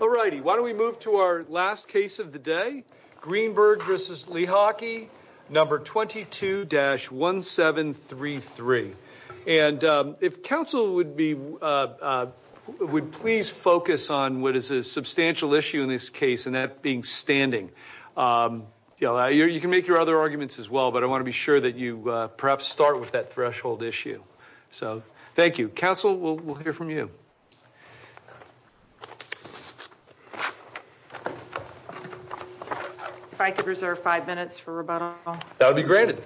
all righty why don't we move to our last case of the day Greenberg vs. Lehocky number 22-1733 and if counsel would be would please focus on what is a substantial issue in this case and that being standing you know you can make your other arguments as well but I want to be sure that you perhaps start with that threshold issue so thank you counsel we'll hear from you if I could reserve five minutes for rebuttal that would be granted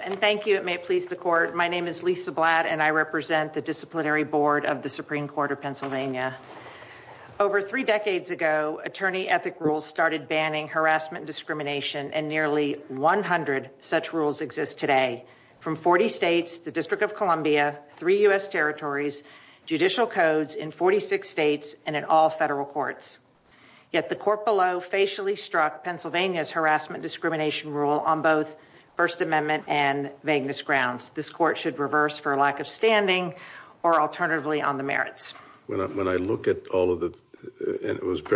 and thank you it may please the court my name is Lisa Blatt and I represent the disciplinary board of the Supreme Court of Pennsylvania over three decades ago attorney ethic rules started banning harassment discrimination and nearly 100 such rules exist today from 40 states the District of Columbia three US territories judicial codes in 46 states and in all federal courts yet the court below facially struck Pennsylvania's harassment discrimination rule on both First Amendment and vagueness grounds this court should reverse for a lack of standing or alternatively on the merits when I look at all of the and it was in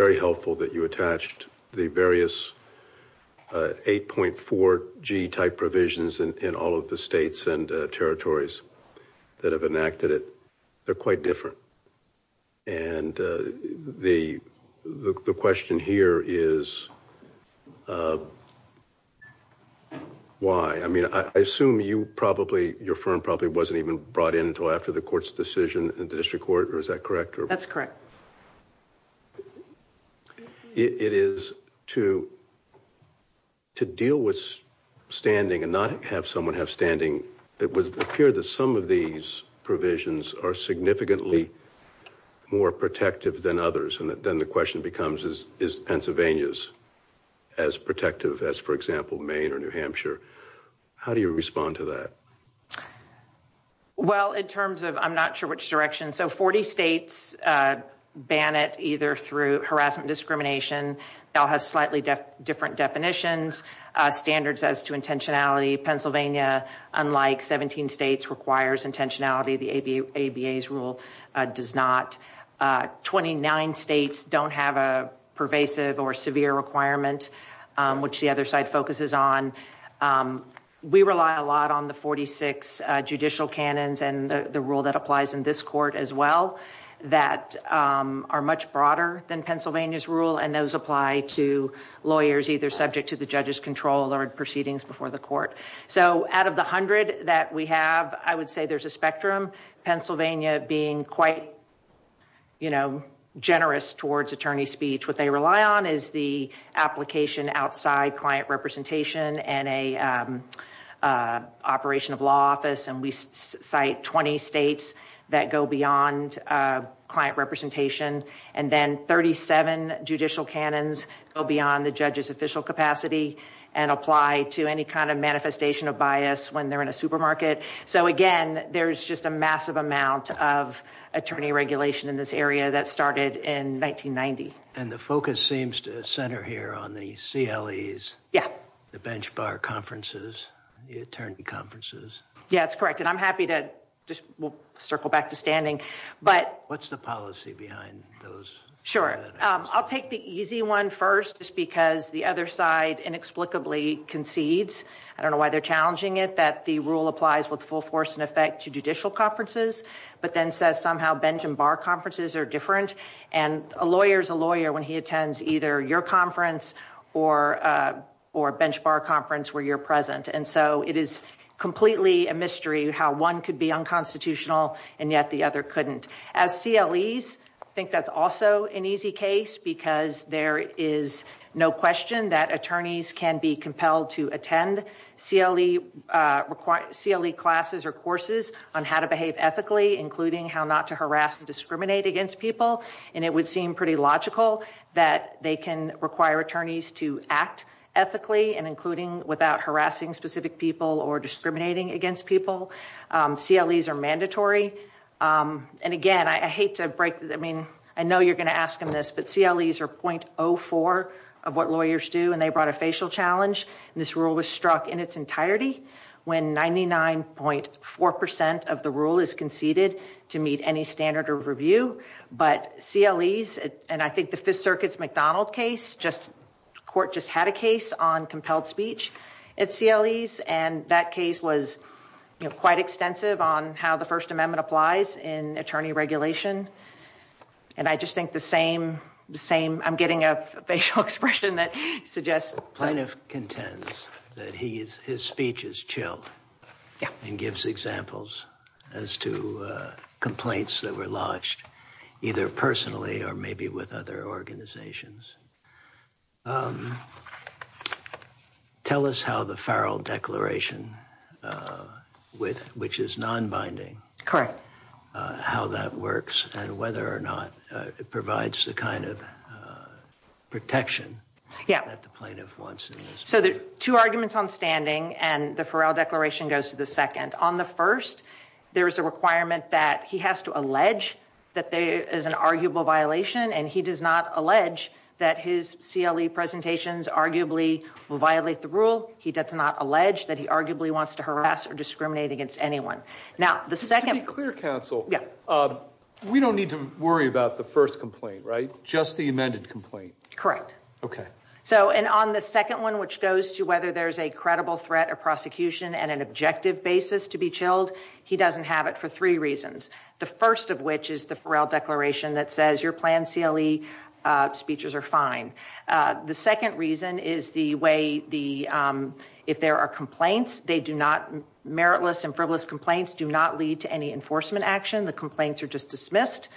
all of the states and territories that have enacted it they're quite different and the the question here is why I mean I assume you probably your firm probably wasn't even brought in until after the court's decision in the district court or is that correct or that's correct it is to to deal with standing and not have someone have standing it would appear that some of these provisions are significantly more protective than others and then the question becomes is is Pennsylvania's as protective as for example Maine or New Hampshire how do you respond to that well in terms of I'm not sure which direction so 40 states ban it either through harassment discrimination they have slightly different definitions standards as to intentionality Pennsylvania unlike 17 states requires intentionality the ABA's rule does not 29 states don't have a pervasive or severe requirement which the other side focuses on we rely a lot on the 46 judicial canons and the rule that applies in this court as well that are much broader than Pennsylvania's rule and those apply to lawyers either subject to the judge's control or proceedings before the court so out of the hundred that we have I would say there's a spectrum Pennsylvania being quite you know generous towards attorney speech what they rely on is the application outside client representation and a operation of law office and we cite 20 states that go beyond client representation and then 37 judicial canons go beyond the judge's official capacity and apply to any kind of manifestation of bias when they're in a supermarket so again there's just a massive amount of attorney regulation in this area that started in 1990 and the focus seems to center here on the CLEs yeah the bench bar conferences the attorney conferences yeah it's correct and I'm happy to just circle back to standing but what's the policy behind those sure I'll take the easy one first just because the other side inexplicably concedes I don't know why they're challenging it that the rule applies with full force and effect to judicial conferences but then says somehow bench and bar conferences are different and a lawyer is a lawyer when he attends either your conference or or a bench bar conference where you're and so it is completely a mystery how one could be unconstitutional and yet the other couldn't as CLEs think that's also an easy case because there is no question that attorneys can be compelled to attend CLE required CLE classes or courses on how to behave ethically including how not to harass and discriminate against people and it would seem pretty logical that they can require attorneys to act ethically and including without harassing specific people or discriminating against people CLEs are mandatory and again I hate to break that I mean I know you're gonna ask him this but CLEs are 0.04 of what lawyers do and they brought a facial challenge this rule was struck in its entirety when 99.4 percent of the rule is conceded to meet any standard of CLEs and I think the Fifth Circuit's McDonald case just court just had a case on compelled speech at CLEs and that case was quite extensive on how the First Amendment applies in attorney regulation and I just think the same the same I'm getting a facial expression that suggests plaintiff contends that he is his speech is chilled and gives examples as to complaints that were lodged either personally or maybe with other organizations tell us how the Farrell Declaration with which is non-binding correct how that works and whether or not it provides the kind of protection yeah at the plaintiff wants so there are two arguments on standing and the Farrell Declaration goes to the that there is an arguable violation and he does not allege that his CLE presentations arguably will violate the rule he does not allege that he arguably wants to harass or discriminate against anyone now the second clear counsel yeah we don't need to worry about the first complaint right just the amended complaint correct okay so and on the second one which goes to whether there's a credible threat or prosecution and an objective basis to be chilled he doesn't have it for three reasons the first of which is the Farrell Declaration that says your plan CLE speeches are fine the second reason is the way the if there are complaints they do not meritless and frivolous complaints do not lead to any enforcement action the complaints are just dismissed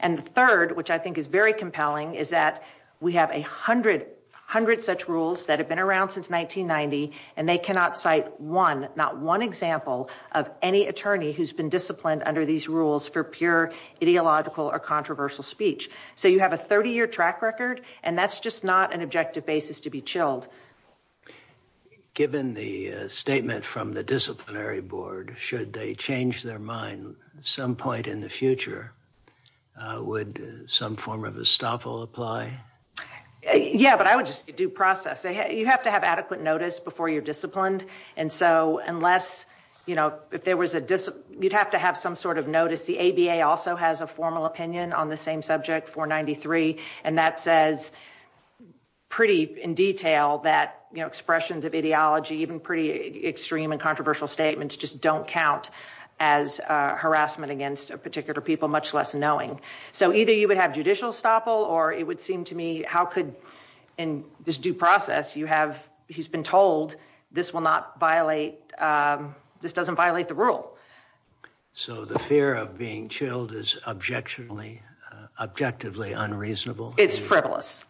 and the third which I think is very compelling is that we have a hundred hundred such rules that have been around since 1990 and they cannot cite one not one example of any attorney who's been disciplined under these rules for pure ideological or controversial speech so you have a 30-year track record and that's just not an objective basis to be chilled given the statement from the disciplinary board should they change their mind at some point in the future would some form of estoppel apply yeah but I would just do process you have to have adequate notice before you're disciplined and so unless you know if there was a discipline you'd have to have some sort of notice the ABA also has a formal opinion on the same subject 493 and that says pretty in detail that you know expressions of ideology even pretty extreme and controversial statements just don't count as harassment against a particular people much less knowing so either you would have judicial estoppel or it would seem to me how could in this due process you have he's been told this will not violate this doesn't violate the rule so the fear of being chilled is objection only objectively unreasonable it's frivolous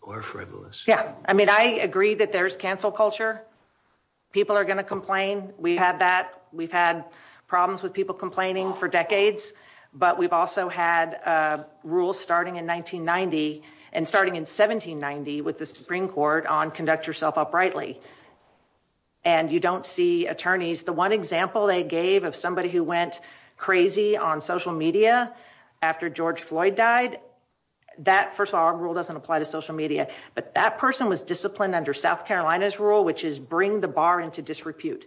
or frivolous yeah I mean I agree that there's cancel culture people are gonna complain we had that we've had problems with people complaining for decades but we've also had rules starting in 1990 and starting in 1790 with the Supreme Court on conduct yourself uprightly and you don't see attorneys the one example they gave of somebody who went crazy on social media after George Floyd died that first our rule doesn't apply to social media but that person was disciplined under South Carolina's rule which is bring the bar into disrepute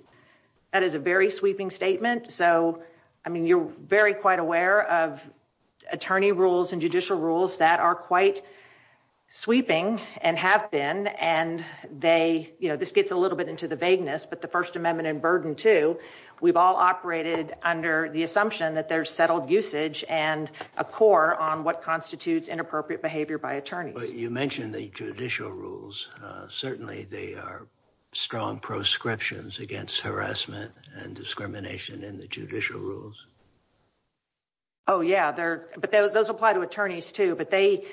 that is a very sweeping statement so I mean you're very quite aware of attorney rules and judicial rules that are quite sweeping and have been and they you know this gets a little bit into the vagueness but the First Amendment and burden to we've all operated under the assumption that there's settled usage and a core on what constitutes inappropriate behavior by attorneys you mentioned the judicial rules certainly they are strong proscriptions against harassment and discrimination in the judicial rules oh yeah they're but those apply to attorneys too but they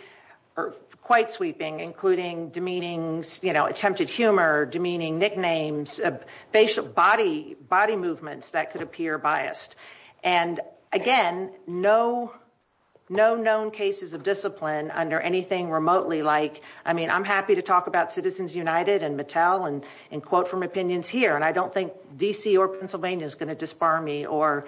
are quite sweeping including demeanings you know attempted humor demeaning nicknames facial body body movements that could appear biased and again no no known cases of discipline under anything remotely like I mean I'm happy to talk about Citizens United and Mattel and in quote from opinions here and I don't think DC or Pennsylvania is going to disbar me or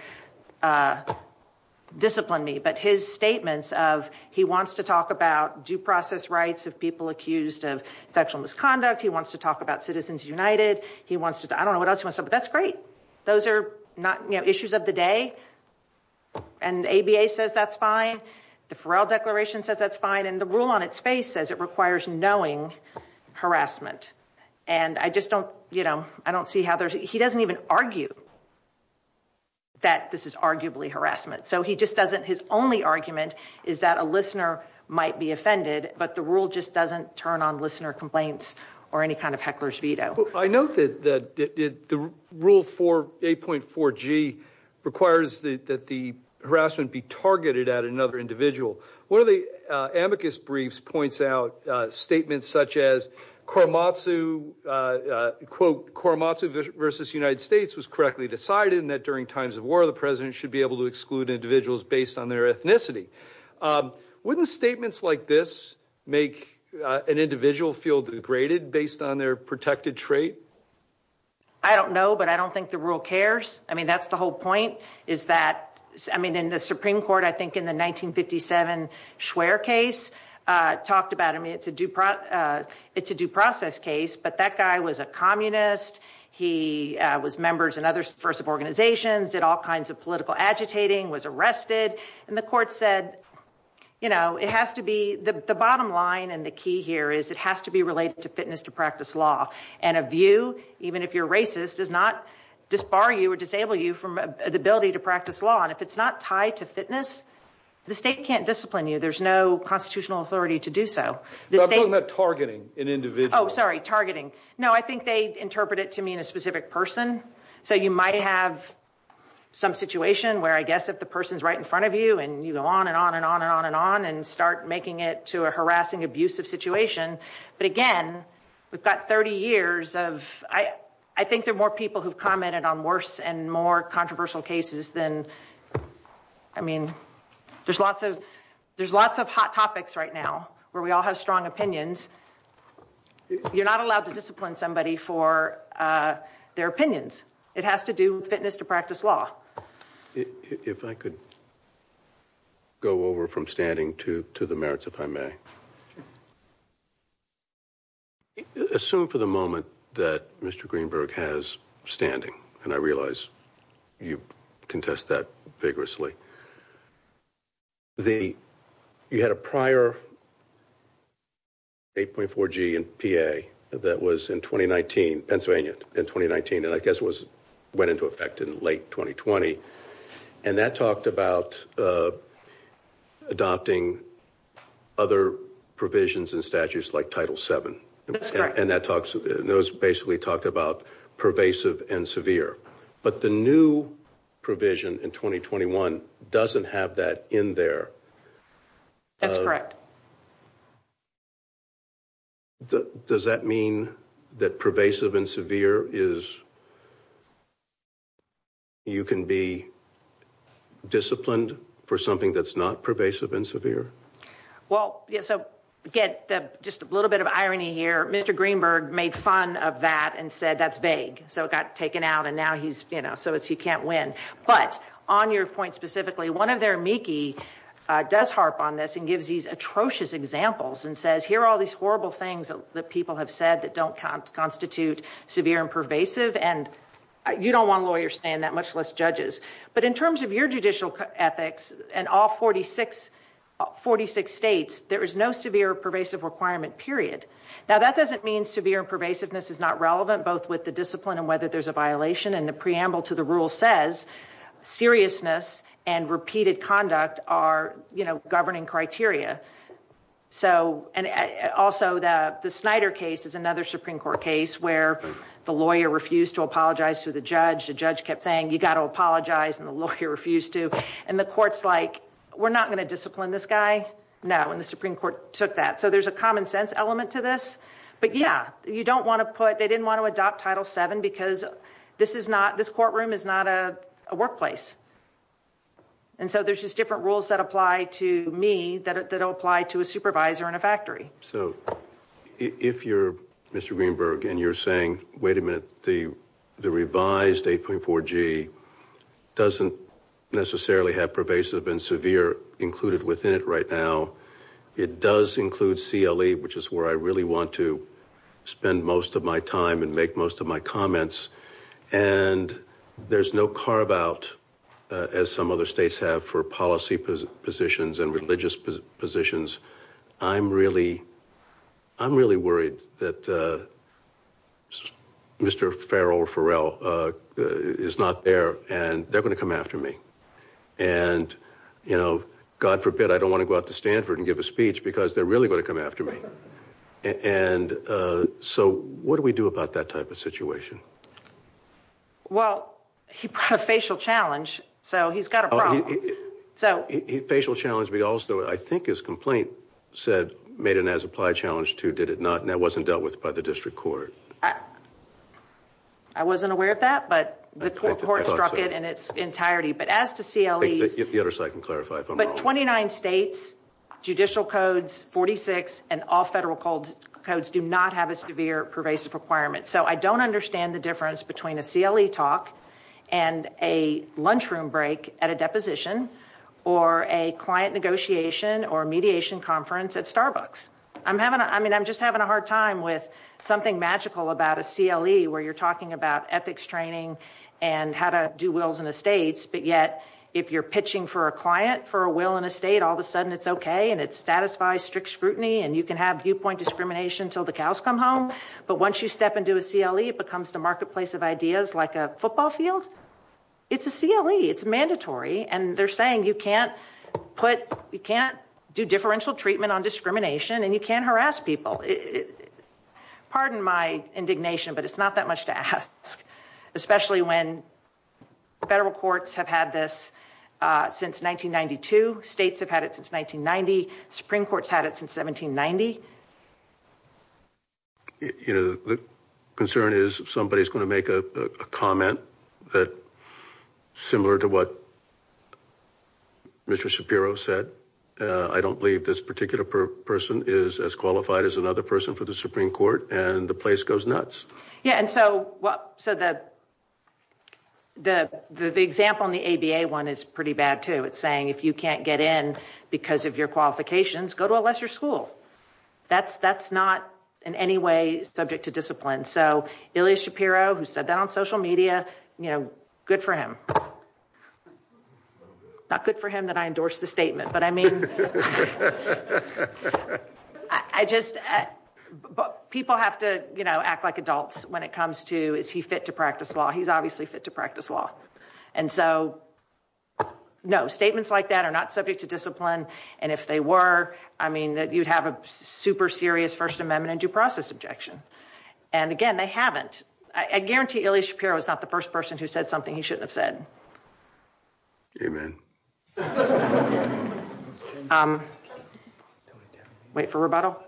discipline me but his statements of he wants to talk about due process rights of people accused of sexual misconduct he wants to talk about Citizens United he wants to I don't know what else was up that's great those are not you know issues of the day and ABA says that's fine the Farrell Declaration says that's fine and the rule on its face as it requires knowing harassment and I just don't you know I don't see how there's he doesn't even argue that this is arguably harassment so he just doesn't his only argument is that a listener might be offended but the rule just doesn't turn on listener complaints or any kind of hecklers veto I know that that did the rule for 8.4 G requires that the harassment be targeted at another individual one of the amicus briefs points out statements such as Korematsu quote Korematsu versus United States was correctly decided in that during times of war the president should be able to exclude individuals based on their ethnicity wouldn't statements like this make an individual feel degraded based on their protected trait I don't know but I don't think the rule cares I mean that's the whole point is that I mean in the Supreme Court I think in the 1957 schwer case talked about I mean it's a due process it's a due process case but that guy was a communist he was members and others first of organizations did all kinds of political agitating was arrested and the court said you know it has to be the bottom line and the key here is it has to be related to fitness to practice law and a view even if you're racist does not disbar you or disable you from the ability to practice law and if it's not tied to fitness the state can't discipline you there's no constitutional authority to do so the thing that targeting an individual sorry targeting no I think they interpret it to mean a specific person so you might have some situation where I guess if the person's right in front of you and you go on and on and on and on and on and start making it to a harassing abusive situation but again we've got 30 years of I I think there are more people who commented on and more controversial cases than I mean there's lots of there's lots of hot topics right now where we all have strong opinions you're not allowed to discipline somebody for their opinions it has to do with fitness to practice law if I could go over from standing to to the merits if I may assume for the you contest that vigorously the you had a prior 8.4 G and PA that was in 2019 Pennsylvania in 2019 and I guess was went into effect in late 2020 and that talked about adopting other provisions and statutes like title 7 and that talks those basically talked about pervasive and severe but the new provision in 2021 doesn't have that in there that's correct the does that mean that pervasive and severe is you can be disciplined for something that's not pervasive and severe well yeah so get that just a fun of that and said that's vague so it got taken out and now he's you know so it's he can't win but on your point specifically one of their Meeki does harp on this and gives these atrocious examples and says here are all these horrible things that people have said that don't constitute severe and pervasive and you don't want lawyers saying that much less judges but in terms of your judicial ethics and all 46 46 states there is no severe pervasive requirement period now that doesn't mean severe pervasiveness is not relevant both with the discipline and whether there's a violation and the preamble to the rule says seriousness and repeated conduct are you know governing criteria so and also that the Snyder case is another Supreme Court case where the lawyer refused to apologize to the judge the judge kept saying you got to apologize and the lawyer refused to and the courts like we're not going to discipline this guy now and the Supreme Court took that so there's a common-sense element to this but yeah you don't want to put they didn't want to adopt title 7 because this is not this courtroom is not a workplace and so there's just different rules that apply to me that apply to a supervisor in a factory so if you're mr. Greenberg and you're saying wait a minute the the revised 8.4 G doesn't necessarily have pervasive and severe included within it right now it does include CLE which is where I really want to spend most of my time and make most of my comments and there's no carve out as some other states have for policy positions and religious positions I'm really I'm really worried that mr. Farrell Farrell is not there and they're going to come after me and you know God forbid I don't want to go out to Stanford and give a speech because they're really going to come after me and so what do we do about that type of situation well he brought a facial challenge so he's got a problem so he facial challenge we also I think his complaint said made an as-applied challenge to did it not and that wasn't dealt with by the district court I wasn't aware of that but the court struck it in its entirety but as to CLE if the other side can clarify but 29 states judicial codes 46 and all federal codes codes do not have a severe pervasive requirement so I don't understand the difference between a CLE talk and a lunchroom break at a deposition or a client negotiation or a mediation conference at Starbucks I'm having I mean I'm just having a hard time with something magical about a CLE where you're talking about ethics training and how to do wills and estates but yet if you're pitching for a client for a will in a state all of a sudden it's okay and it satisfies strict scrutiny and you can have viewpoint discrimination till the cows come home but once you step into a CLE it becomes the marketplace of ideas like a football field it's a CLE it's mandatory and they're saying you can't put you people it pardon my indignation but it's not that much to ask especially when federal courts have had this since 1992 states have had it since 1990 Supreme Court's had it since 1790 you know the concern is somebody's going to make a comment that similar to what mr. Shapiro said I don't believe this particular person is as qualified as another person for the Supreme Court and the place goes nuts yeah and so what so that the the example in the ABA one is pretty bad too it's saying if you can't get in because of your qualifications go to a lesser school that's that's not in any way subject to discipline so Ilya Shapiro who said that on social media you know good for him not good for him that I endorse the statement but I mean I just but people have to you know act like adults when it comes to is he fit to practice law he's obviously fit to practice law and so no statements like that are not subject to discipline and if they were I mean that you'd have a super serious First Amendment due process objection and again they haven't I guarantee Ilya Shapiro is not the person who said something he shouldn't have said wait for rebuttal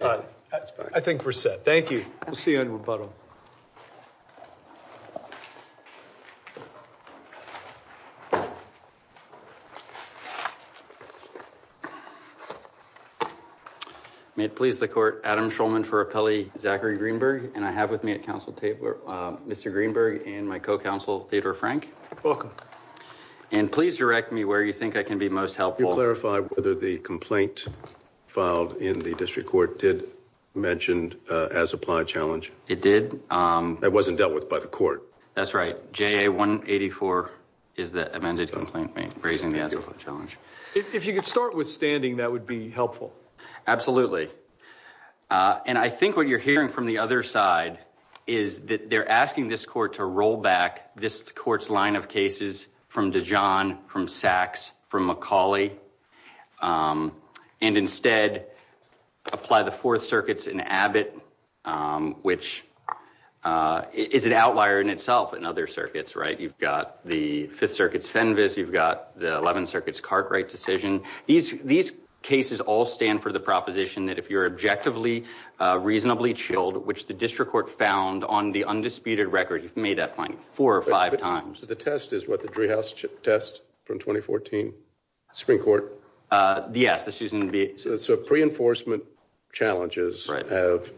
I think we're set thank you we'll see you in rebuttal may it please the court Adam Shulman for a Pele Zachary Greenberg and I have with me at council table or mr. Greenberg and my co-counsel Theodore Frank welcome and please direct me where you think I can be most helpful clarify whether the complaint filed in the district court did mentioned as applied challenge it did that wasn't dealt with by the court that's right ja 184 is the amended complaint raising the actual challenge if you could start withstanding that would be helpful absolutely and I think what you're hearing from the other side is that they're asking this court to roll back this court's line of cases from Dijon from sacks from Macaulay and instead apply the Fourth Circuit's in Abbott which is an outlier in itself in other circuits right you've got the Fifth Circuit's Fenves you've got the 11th Circuit's Cartwright decision these these cases all stand for the proposition that if you're objectively reasonably chilled which the district court found on the undisputed record you've made that point four or five times the test is what the treehouse test from 2014 Supreme Court yes this isn't be so pre-enforcement challenges right have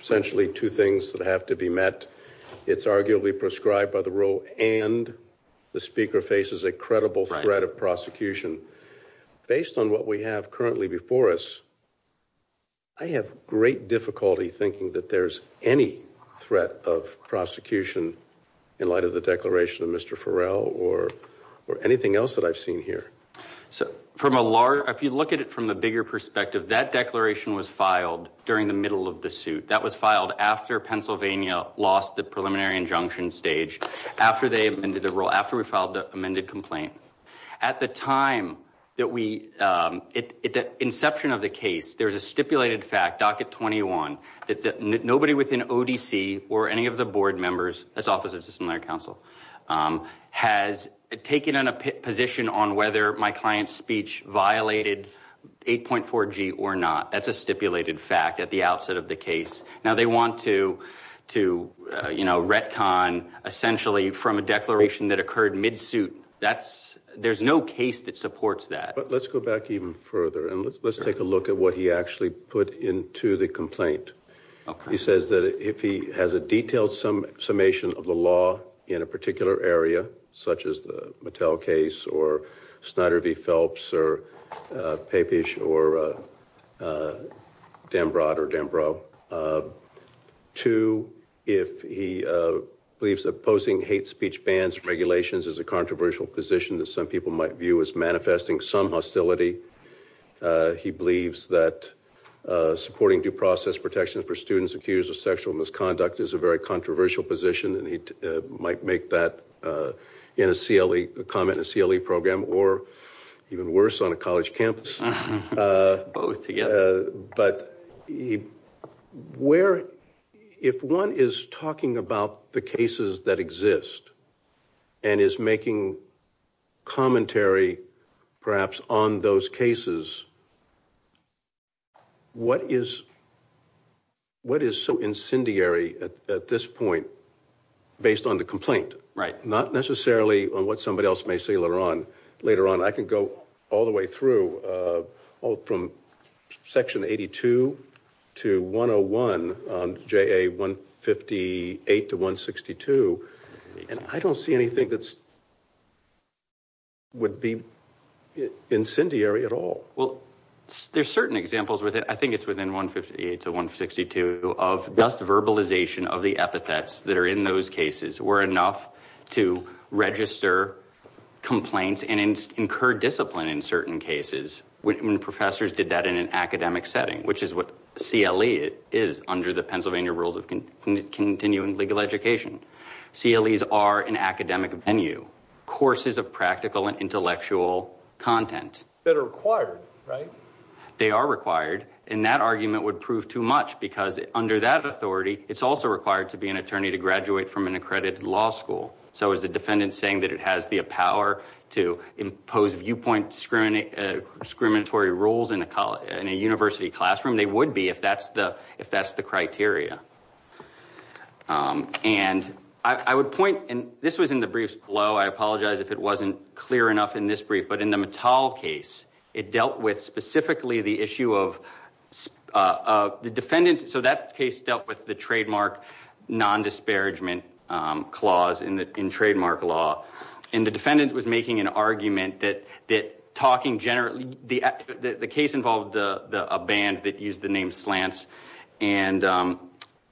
essentially two things that have to be met it's arguably prescribed by the rule and the speaker faces a credible threat of prosecution based on what we have currently before us I have great difficulty thinking that there's any threat of prosecution in light of the declaration of mr. Farrell or or anything else that I've seen here so from a large if you look at it from the bigger perspective that declaration was filed during the middle of the suit that was filed after Pennsylvania lost the preliminary injunction stage after they amended the rule after we filed the complaint at the time that we at the inception of the case there's a stipulated fact docket 21 that nobody within ODC or any of the board members that's Office of Disciplinary Counsel has taken on a position on whether my client's speech violated 8.4 G or not that's a stipulated fact at the outset of the case now they want to to you know retcon essentially from a declaration that occurred mid suit that's there's no case that supports that but let's go back even further and let's let's take a look at what he actually put into the complaint okay he says that if he has a detailed some summation of the law in a particular area such as the Mattel case or Snyder v Phelps or papish or damn broad or damn bro to if he believes opposing hate speech bans regulations is a controversial position that some people might view as manifesting some hostility he believes that supporting due process protection for students accused of sexual misconduct is a very controversial position and he might make that in a CLE the comment a CLE program or even worse on a college campus but but he where if one is talking about the cases that exist and is making commentary perhaps on those cases what is what is so incendiary at this point based on the complaint right not necessarily on what somebody else may see later on later on I can go all the way through all from section 82 to 101 on JA 158 to 162 and I don't see anything that's would be incendiary at all well there's certain examples with it I think it's within 158 to 162 of dust verbalization of the epithets that are in those cases were enough to register complaints and incur discipline in certain cases when professors did that in an academic setting which is what CLE is under the Pennsylvania rules of continuing legal education CLEs are an academic venue courses of practical and intellectual content that are required right they are required in that argument would prove too much because under that authority it's also required to be an attorney to graduate from an accredited law school so as the defendant saying that it has the power to impose viewpoint discriminate discriminatory rules in a college in a university classroom they would be if that's the if that's the criteria and I would point and this was in the briefs below I apologize if it wasn't clear enough in this brief but in the metal case it dealt with specifically the issue of the defendants so that case dealt with the trademark non disparagement clause in the in trademark law and the defendant was making an argument that that talking generally the the case involved the band that used the name slants and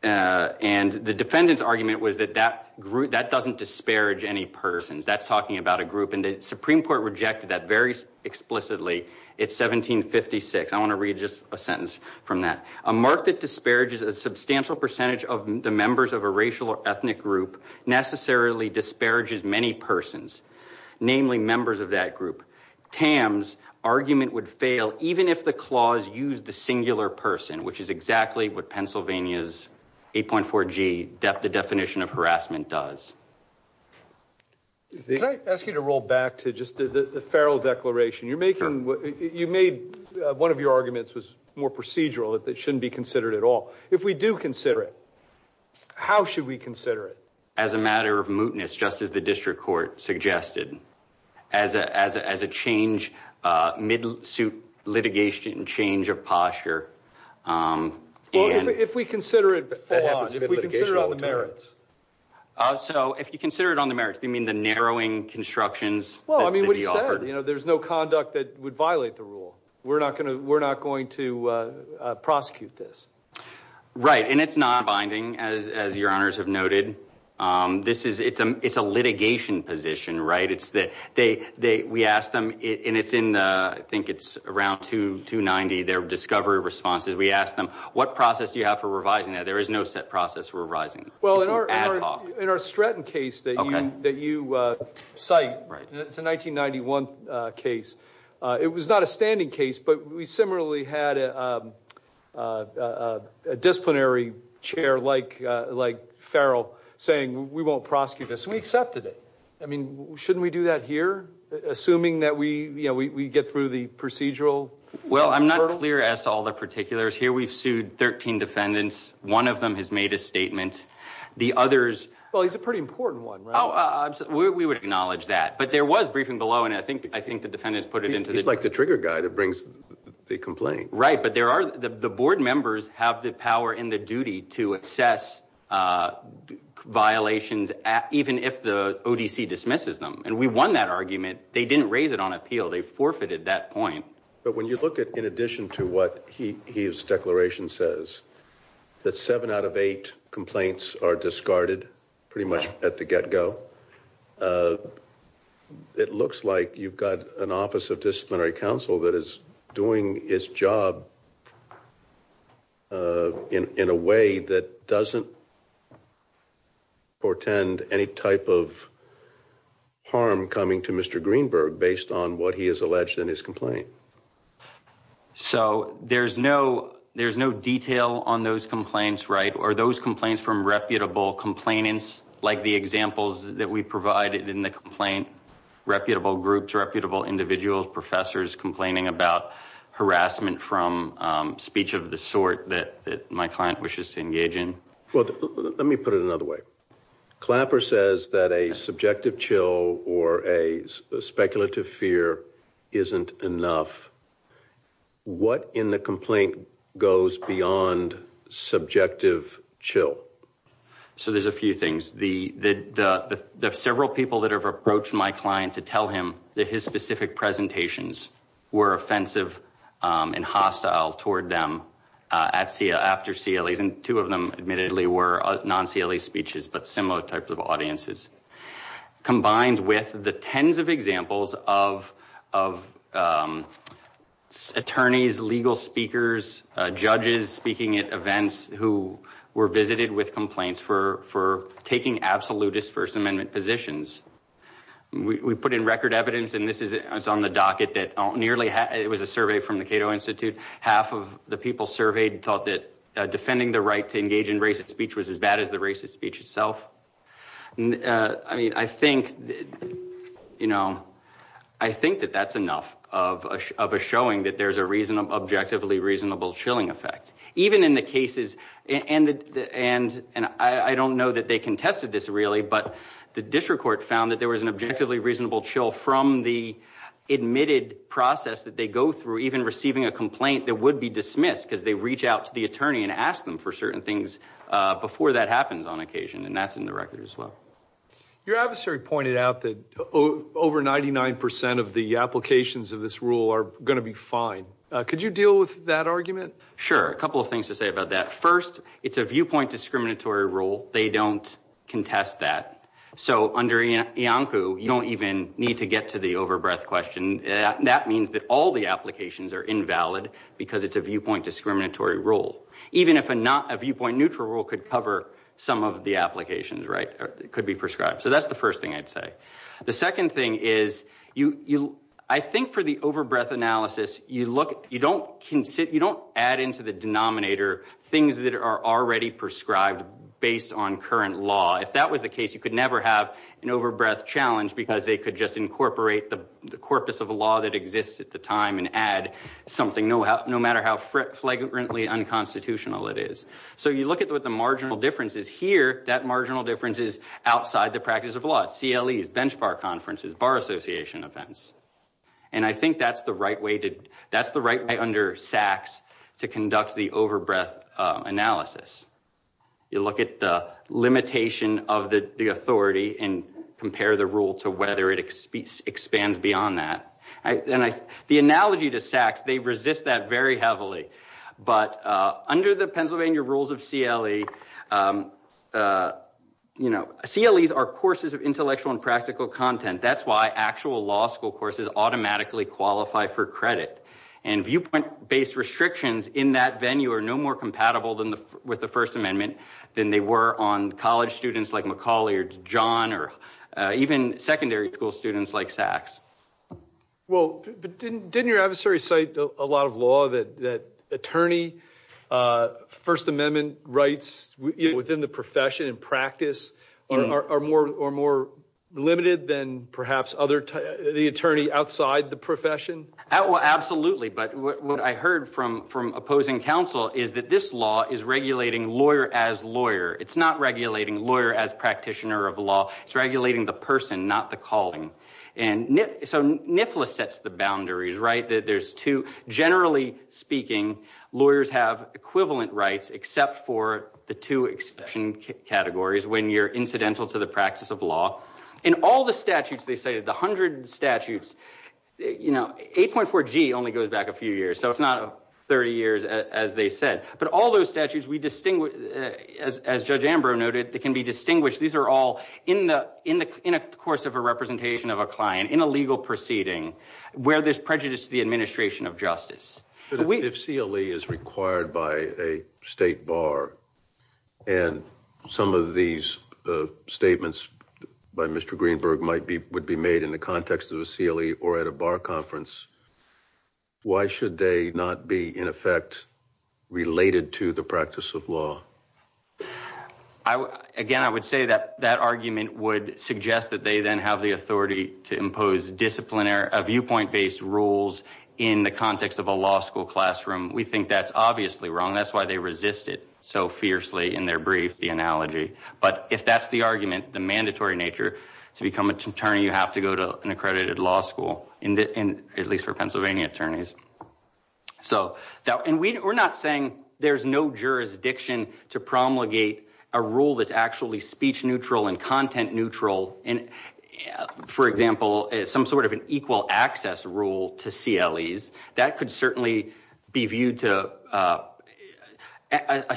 and the defendants argument was that that group that doesn't disparage any persons that's talking about a group and the Supreme Court rejected that very explicitly it's 1756 I want to read just a sentence from that a mark that disparages a substantial percentage of the members of a racial or ethnic group necessarily disparages many persons namely members of that group Tams argument would fail even if the clause used the singular person which is exactly what Pennsylvania's 8.4 G depth the definition of harassment does they ask you to roll back to just the the feral declaration you're making what you made one of your arguments was more procedural that that shouldn't be considered at all if we do consider it how should we consider it as a matter of mootness just as the district court suggested as a as a change mid suit litigation and change of posture if we consider it so if you consider it on the merits they mean the narrowing constructions well I mean what he said you know there's no conduct that would violate the rule we're not gonna we're right and it's not binding as your honors have noted this is it's a it's a litigation position right it's that they they we asked them in it's in I think it's around to 290 their discovery responses we asked them what process do you have for revising that there is no set process we're rising well in our in our Stratton case that you that you cite right it's a 1991 case it was not a disciplinary chair like like Farrell saying we won't prosecute this we accepted it I mean shouldn't we do that here assuming that we you know we get through the procedural well I'm not clear as to all the particulars here we've sued 13 defendants one of them has made a statement the others well he's a pretty important one oh we would acknowledge that but there was briefing below and I think I think the defendants put it into this like the trigger guy that brings the complaint right but there are the board members have the power in the duty to assess violations at even if the OTC dismisses them and we won that argument they didn't raise it on appeal they forfeited that point but when you look at in addition to what he his declaration says that seven out of eight complaints are discarded pretty much at the get-go it looks like you've an office of disciplinary counsel that is doing his job in a way that doesn't portend any type of harm coming to mr. Greenberg based on what he is alleged in his complaint so there's no there's no detail on those complaints right or those complaints from reputable complainants like the examples that we provided in the complaint reputable groups reputable individuals professors complaining about harassment from speech of the sort that my client wishes to engage in well let me put it another way clapper says that a subjective chill or a speculative fear isn't enough what in the complaint goes beyond subjective chill so there's a few things the the several people that have approached my client to tell him that his specific presentations were offensive and hostile toward them at CIA after CLEs and two of them admittedly were non CLE speeches but similar types of audiences combined with the tens of examples of attorneys legal speakers judges speaking at events who were visited with complaints for taking absolutist First Amendment positions we put in record evidence and this is it's on the docket that nearly it was a survey from the Cato Institute half of the people surveyed thought that defending the right to engage in racist speech was as bad as the racist speech itself I mean I think you know I think that that's enough of a showing that there's a reason of objectively reasonable chilling effect even in the cases and and and I don't know that they contested this really but the district court found that there was an objectively reasonable chill from the admitted process that they go through even receiving a complaint that would be dismissed because they reach out to the attorney and ask them for certain things before that happens on occasion and that's in the record as well your adversary pointed out that over 99% of the applications of this rule are going to be fine could you deal with that argument sure a couple of things to say about that first it's a viewpoint discriminatory rule they don't contest that so under you know Iancu you don't even need to get to the overbreath question that means that all the applications are invalid because it's a viewpoint discriminatory rule even if a not a viewpoint neutral rule could cover some of the applications right it could be prescribed so that's the first thing I'd say the second thing is you you I think for the overbreath analysis you look you don't can sit you don't add into the denominator things that are already prescribed based on current law if that was the case you could never have an overbreath challenge because they could just incorporate the the corpus of a law that exists at the time and add something no how no matter how frequently unconstitutional it is so you look at what the marginal difference is here that marginal difference is outside the practice of law at CLEs, bench bar conferences, bar association events and I think that's the right way to that's the right way under SACs to conduct the overbreath analysis you look at the limitation of the authority and compare the rule to whether it expands beyond that and I the analogy to SACs they resist that very heavily but under the Pennsylvania rules of CLE you know CLEs are courses of intellectual and practical content that's why actual law school courses automatically qualify for credit and viewpoint based restrictions in that venue are no more compatible than the with the First Amendment than they were on college students like Macaulay or John or even secondary school students like SACs. Well didn't your adversary cite a lot of law that that attorney First Amendment rights within the profession and practice are more or more limited than perhaps other the attorney outside the profession? Absolutely but what I heard from from opposing counsel is that this law is regulating lawyer as lawyer it's not regulating lawyer as practitioner of law it's regulating the person not the calling and so NIFLA sets the boundaries right that there's two generally speaking lawyers have equivalent rights except for the two exception categories when you're incidental to the practice of law in all the statutes they say the hundred statutes you know 8.4 G only goes back a few years so it's not 30 years as they said but all those statutes we distinguish as Judge Ambrose noted they can be distinguished these are all in the in a course of a representation of a client in a legal proceeding where there's prejudice to the administration of justice. If CLE is required by a state bar and some of these statements by Mr. Greenberg might be would be made in the context of a CLE or at a bar conference why should they not be in effect related to the practice of law? Again I would say that that argument would suggest that they then have the context of a law school classroom we think that's obviously wrong that's why they resist it so fiercely in their brief the analogy but if that's the argument the mandatory nature to become an attorney you have to go to an accredited law school in the end at least for Pennsylvania attorneys so now and we're not saying there's no jurisdiction to promulgate a rule that's actually speech neutral and content neutral and for example some sort of an equal access rule to CLEs that could certainly be viewed to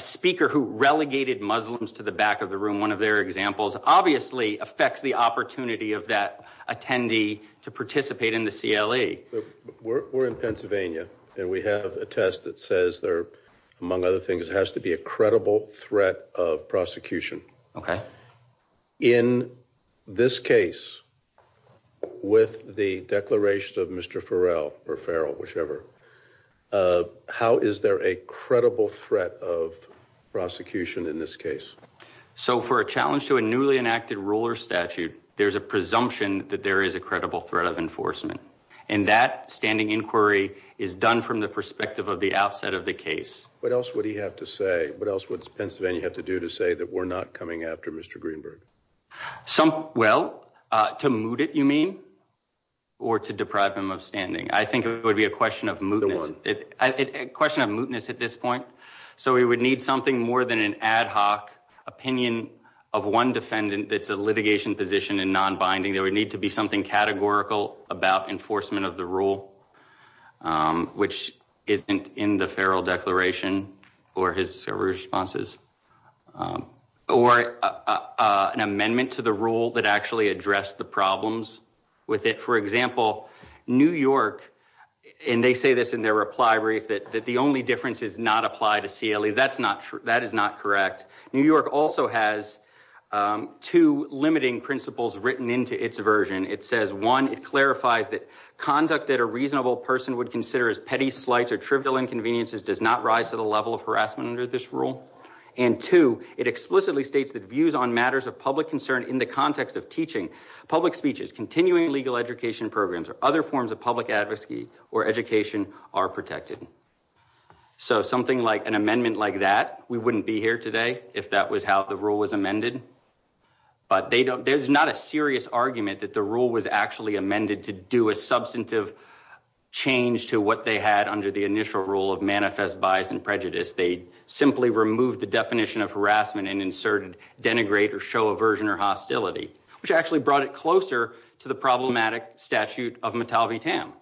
a speaker who relegated Muslims to the back of the room one of their examples obviously affects the opportunity of that attendee to participate in the CLE. We're in Pennsylvania and we have a test that says there among other things has to be credible threat of prosecution okay in this case with the declaration of Mr. Farrell or Farrell whichever how is there a credible threat of prosecution in this case? So for a challenge to a newly enacted ruler statute there's a presumption that there is a credible threat of enforcement and that standing inquiry is done from the perspective of the outset of the case. What else would he have to say what else what's Pennsylvania have to do to say that we're not coming after Mr. Greenberg? Well to moot it you mean or to deprive him of standing I think it would be a question of mootness at this point so we would need something more than an ad hoc opinion of one defendant that's a litigation position and non-binding there would need to be something categorical about enforcement of the rule which isn't in the Farrell declaration or his responses or an amendment to the rule that actually addressed the problems with it for example New York and they say this in their reply brief that that the only difference is not apply to CLEs that's not true that is not correct New York also has two limiting principles written into its version it says one it clarifies that conduct that a reasonable person would consider as petty slights or trivial inconveniences does not rise to the level of harassment under this rule and two it explicitly states that views on matters of public concern in the context of teaching public speeches continuing legal education programs or other forms of public advocacy or education are protected so something like an amendment like that we wouldn't be here today if that was how the rule was amended but they don't there's not a change to what they had under the initial rule of manifest bias and prejudice they simply removed the definition of harassment and inserted denigrate or show aversion or hostility which actually brought it closer to the problematic statute of metal V TAM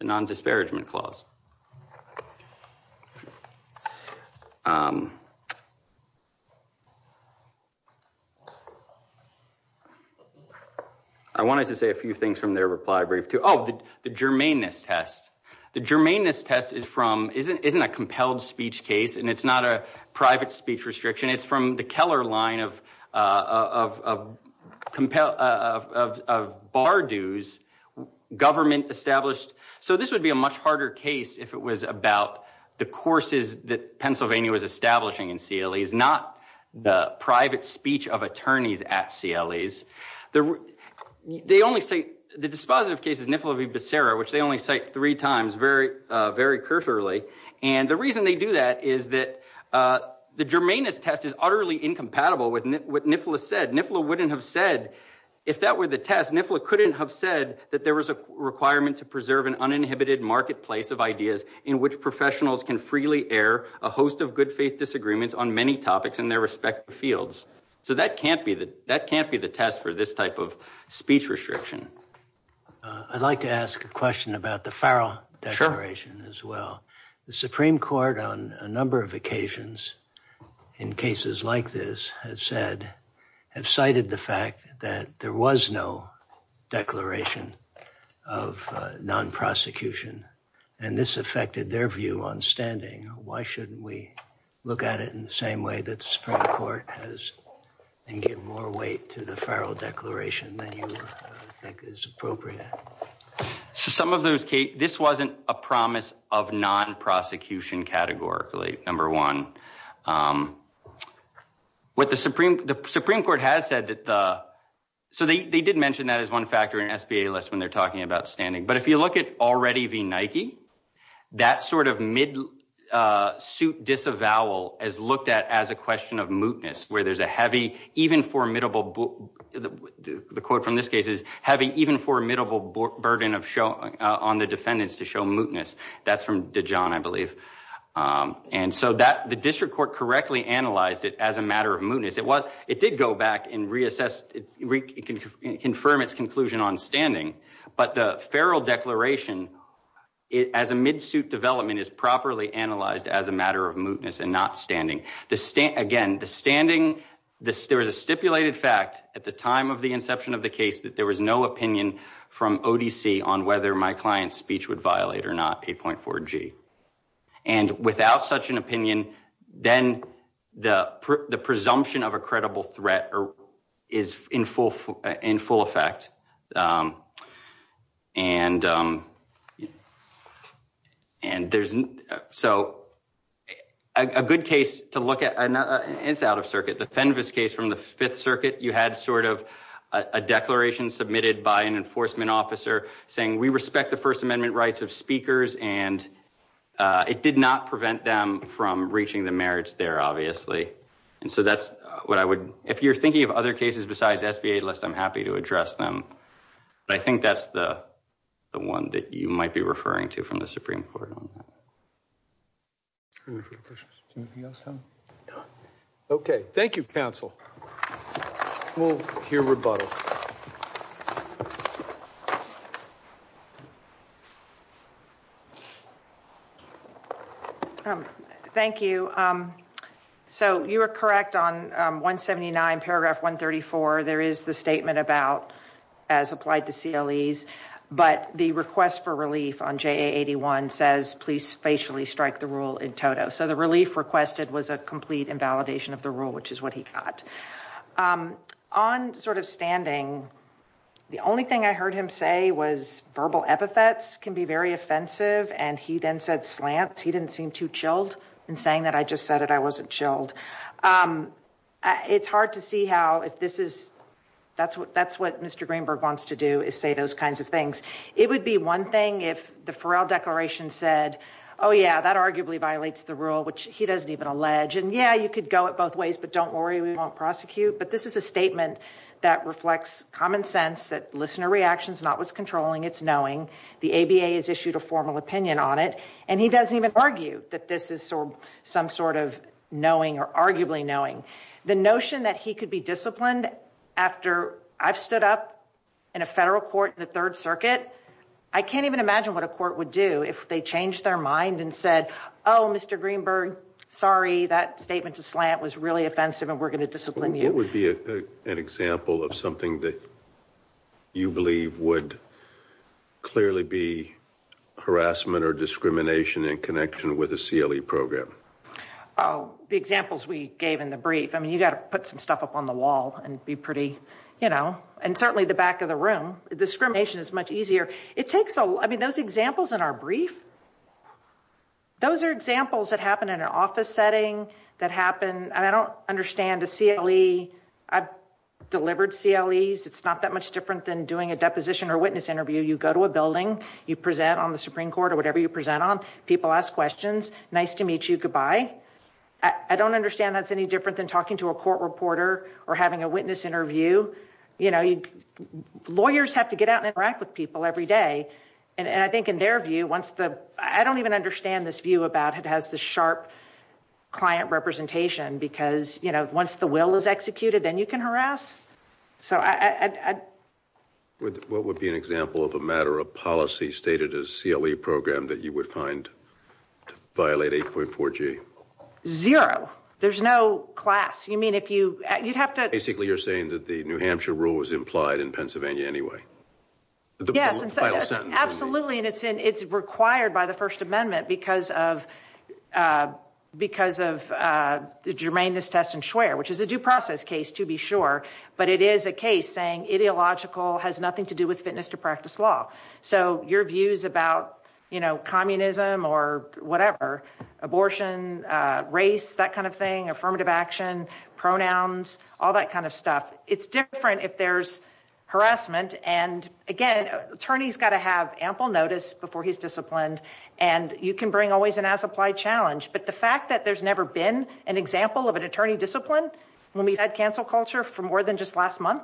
the non disparagement clause I wanted to say a few things from their reply brief to all the germane this test the germane this test is from isn't isn't a compelled speech case and it's not a private speech restriction it's from the Keller line of compelled of bar dues government established so this would be a much harder case if it was about the courses that Pennsylvania was establishing in CLEs not the private speech of attorneys at CLEs the they only say the dispositive cases niffler be Bussera which they only cite three times very very cursorily and the reason they do that is that the germane this test is utterly incompatible with what niffler said niffler wouldn't have said if that were the test niffler couldn't have said that there was a requirement to preserve an uninhibited marketplace of ideas in which professionals can freely air a host of good faith disagreements on many topics in their respective fields so that can't be that that can't be the test for this type of speech restriction I'd like to ask a question about the Farrell declaration as well the Supreme Court on a number of occasions in cases like this has said have cited the fact that there was no declaration of non-prosecution and this affected their view on standing why shouldn't we look at it in the same way that the Supreme Court has and give more weight to the Farrell declaration that you think is appropriate some of those Kate this wasn't a promise of non-prosecution categorically number one what the Supreme the Supreme Court has said that the so they did mention that as one factor in SBA less when they're talking about standing but if you look at already be Nike that sort of mid suit disavowal as looked at as a question of mootness where there's a heavy even formidable book the quote from this case is having even formidable burden of show on the defendants to show mootness that's from Dijon I believe and so that the district court correctly analyzed it as a matter of mootness it was it did go back and reassessed it can confirm its conclusion on standing but the Farrell declaration it as a midsuit development is properly analyzed as a matter of mootness and not standing the state again the standing this there was a stipulated fact at the time of the inception of the case that there was no opinion from OTC on whether my client's speech would violate or not 8.4 G and without such an opinion then the the assumption of a credible threat or is in full in full effect and and there's so a good case to look at and it's out of circuit the Fenves case from the Fifth Circuit you had sort of a declaration submitted by an enforcement officer saying we respect the First Amendment rights of speakers and it did prevent them from reaching the merits there obviously and so that's what I would if you're thinking of other cases besides SBA list I'm happy to address them I think that's the the one that you might be referring to from the Supreme Court okay thank you counsel we'll hear rebuttal thank you so you were correct on 179 paragraph 134 there is the statement about as applied to CLEs but the request for relief on JA 81 says please facially strike the rule in total so the relief requested was a complete invalidation of the rule which is what he thought on sort of standing the only thing I heard him say was verbal epithets can be very offensive and he then said slant he didn't seem too chilled and saying that I just said it I wasn't chilled it's hard to see how if this is that's what that's what mr. Greenberg wants to do is say those kinds of things it would be one thing if the Farrell declaration said oh yeah that arguably violates the rule which he doesn't even allege and yeah you could go it both ways but don't worry we won't prosecute but this is a statement that reflects common sense that listener reactions not what's controlling it's knowing the ABA has issued a formal opinion on it and he doesn't even argue that this is sort of some sort of knowing or arguably knowing the notion that he could be disciplined after I've stood up in a federal court the third circuit I can't even imagine what a court would do if they changed their mind and said oh mr. Greenberg sorry that statement to slant was really offensive and we're gonna discipline you would be an example of something that you believe would clearly be harassment or discrimination in connection with a CLE program Oh the examples we gave in the brief I mean you got to put some stuff up on the wall and be pretty you know and certainly the back of the room discrimination is much easier it takes a I mean those examples in our brief those are examples that happen in an office setting that happen and I don't understand the CLE I've delivered CLEs it's not that much different than doing a deposition or witness interview you go to a building you present on the Supreme Court or whatever you present on people ask questions nice to meet you goodbye I don't understand that's any different than talking to a court reporter or having a witness interview you know you lawyers have to get out and interact with people every day and I think in their view once the I don't even understand this view about it has the sharp client representation because you know once the will is executed then you can harass so I would what would be an example of a matter of policy stated as CLE program that you would find to class you mean if you you'd have to basically you're saying that the New Hampshire rule was implied in Pennsylvania anyway yes absolutely and it's in it's required by the First Amendment because of because of the germaneness test and swear which is a due process case to be sure but it is a case saying ideological has nothing to do with fitness to practice law so your views about you know communism or whatever abortion race that kind of thing affirmative action pronouns all that kind of stuff it's different if there's harassment and again attorneys got to have ample notice before he's disciplined and you can bring always an as-applied challenge but the fact that there's never been an example of an attorney discipline when we had cancel culture for more than just last month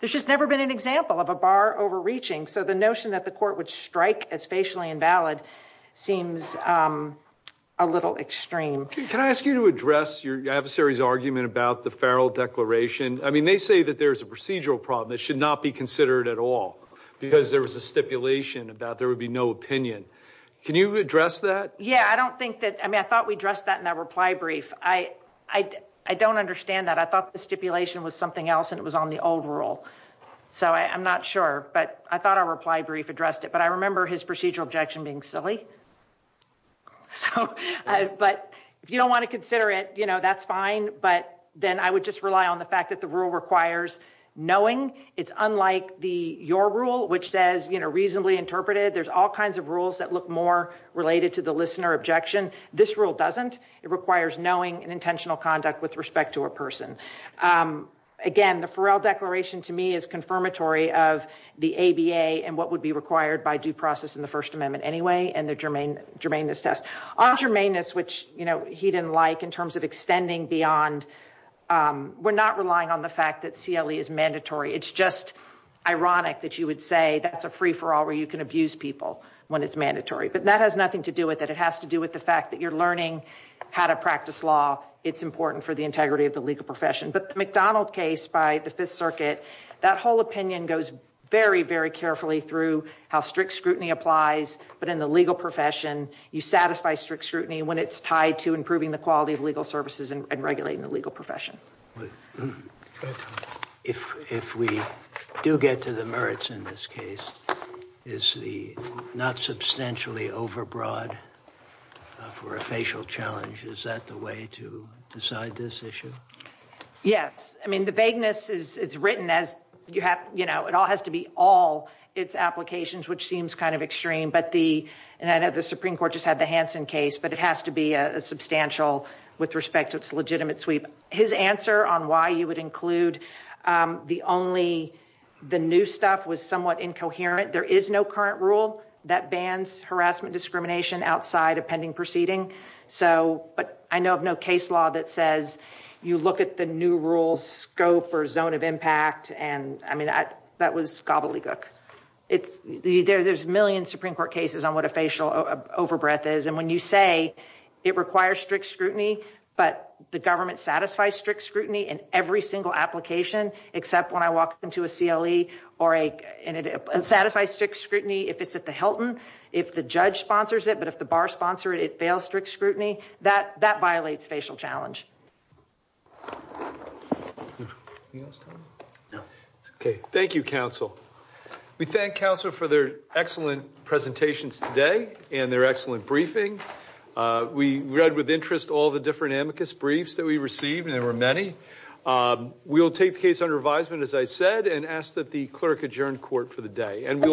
there's just never been an example of a bar overreaching so the notion that the court would strike as facially invalid seems a little extreme can I ask you to address your adversaries argument about the Farrell declaration I mean they say that there's a procedural problem that should not be considered at all because there was a stipulation about there would be no opinion can you address that yeah I don't think that I mean I thought we addressed that in that reply brief I I don't understand that I thought the stipulation was something else and it was on the old rule so I'm not sure but I thought I replied brief addressed it but I remember his procedural objection being silly so but if you don't want to consider it you know that's fine but then I would just rely on the fact that the rule requires knowing it's unlike the your rule which says you know reasonably interpreted there's all kinds of rules that look more related to the listener objection this rule doesn't it requires knowing and intentional conduct with respect to a person again the Farrell declaration to me is confirmatory of the ABA and what would be anyway and the germane germane this test on germane this which you know he didn't like in terms of extending beyond we're not relying on the fact that CLE is mandatory it's just ironic that you would say that's a free-for-all where you can abuse people when it's mandatory but that has nothing to do with it it has to do with the fact that you're learning how to practice law it's important for the integrity of the legal profession but the McDonald case by the Fifth Circuit that whole opinion goes very very carefully through how strict scrutiny applies but in the legal profession you satisfy strict scrutiny when it's tied to improving the quality of legal services and regulating the legal profession if if we do get to the merits in this case is the not substantially overbroad for a facial challenge is that the way to decide this issue yes I mean the vagueness is written as you have you know it all has to be all its applications which seems kind of extreme but the and I know the Supreme Court just had the Hansen case but it has to be a substantial with respect to its legitimate sweep his answer on why you would include the only the new stuff was somewhat incoherent there is no current rule that bans harassment discrimination outside of pending proceeding so but I know of no case law that says you look at the new rules scope or zone of impact and I mean that that was gobbledygook it's the there's a million Supreme Court cases on what a facial overbreath is and when you say it requires strict scrutiny but the government satisfies strict scrutiny in every single application except when I walk into a CLE or a and it satisfies strict scrutiny if it's at the Hilton if the judge sponsors it but if the bar sponsor it it fails strict scrutiny that that violates facial challenge okay thank you counsel we thank counsel for their excellent presentations today and their excellent briefing we read with interest all the different amicus briefs that we received and there were many we'll take the case under advisement as I said and asked that the clerk adjourned court for the day and we'll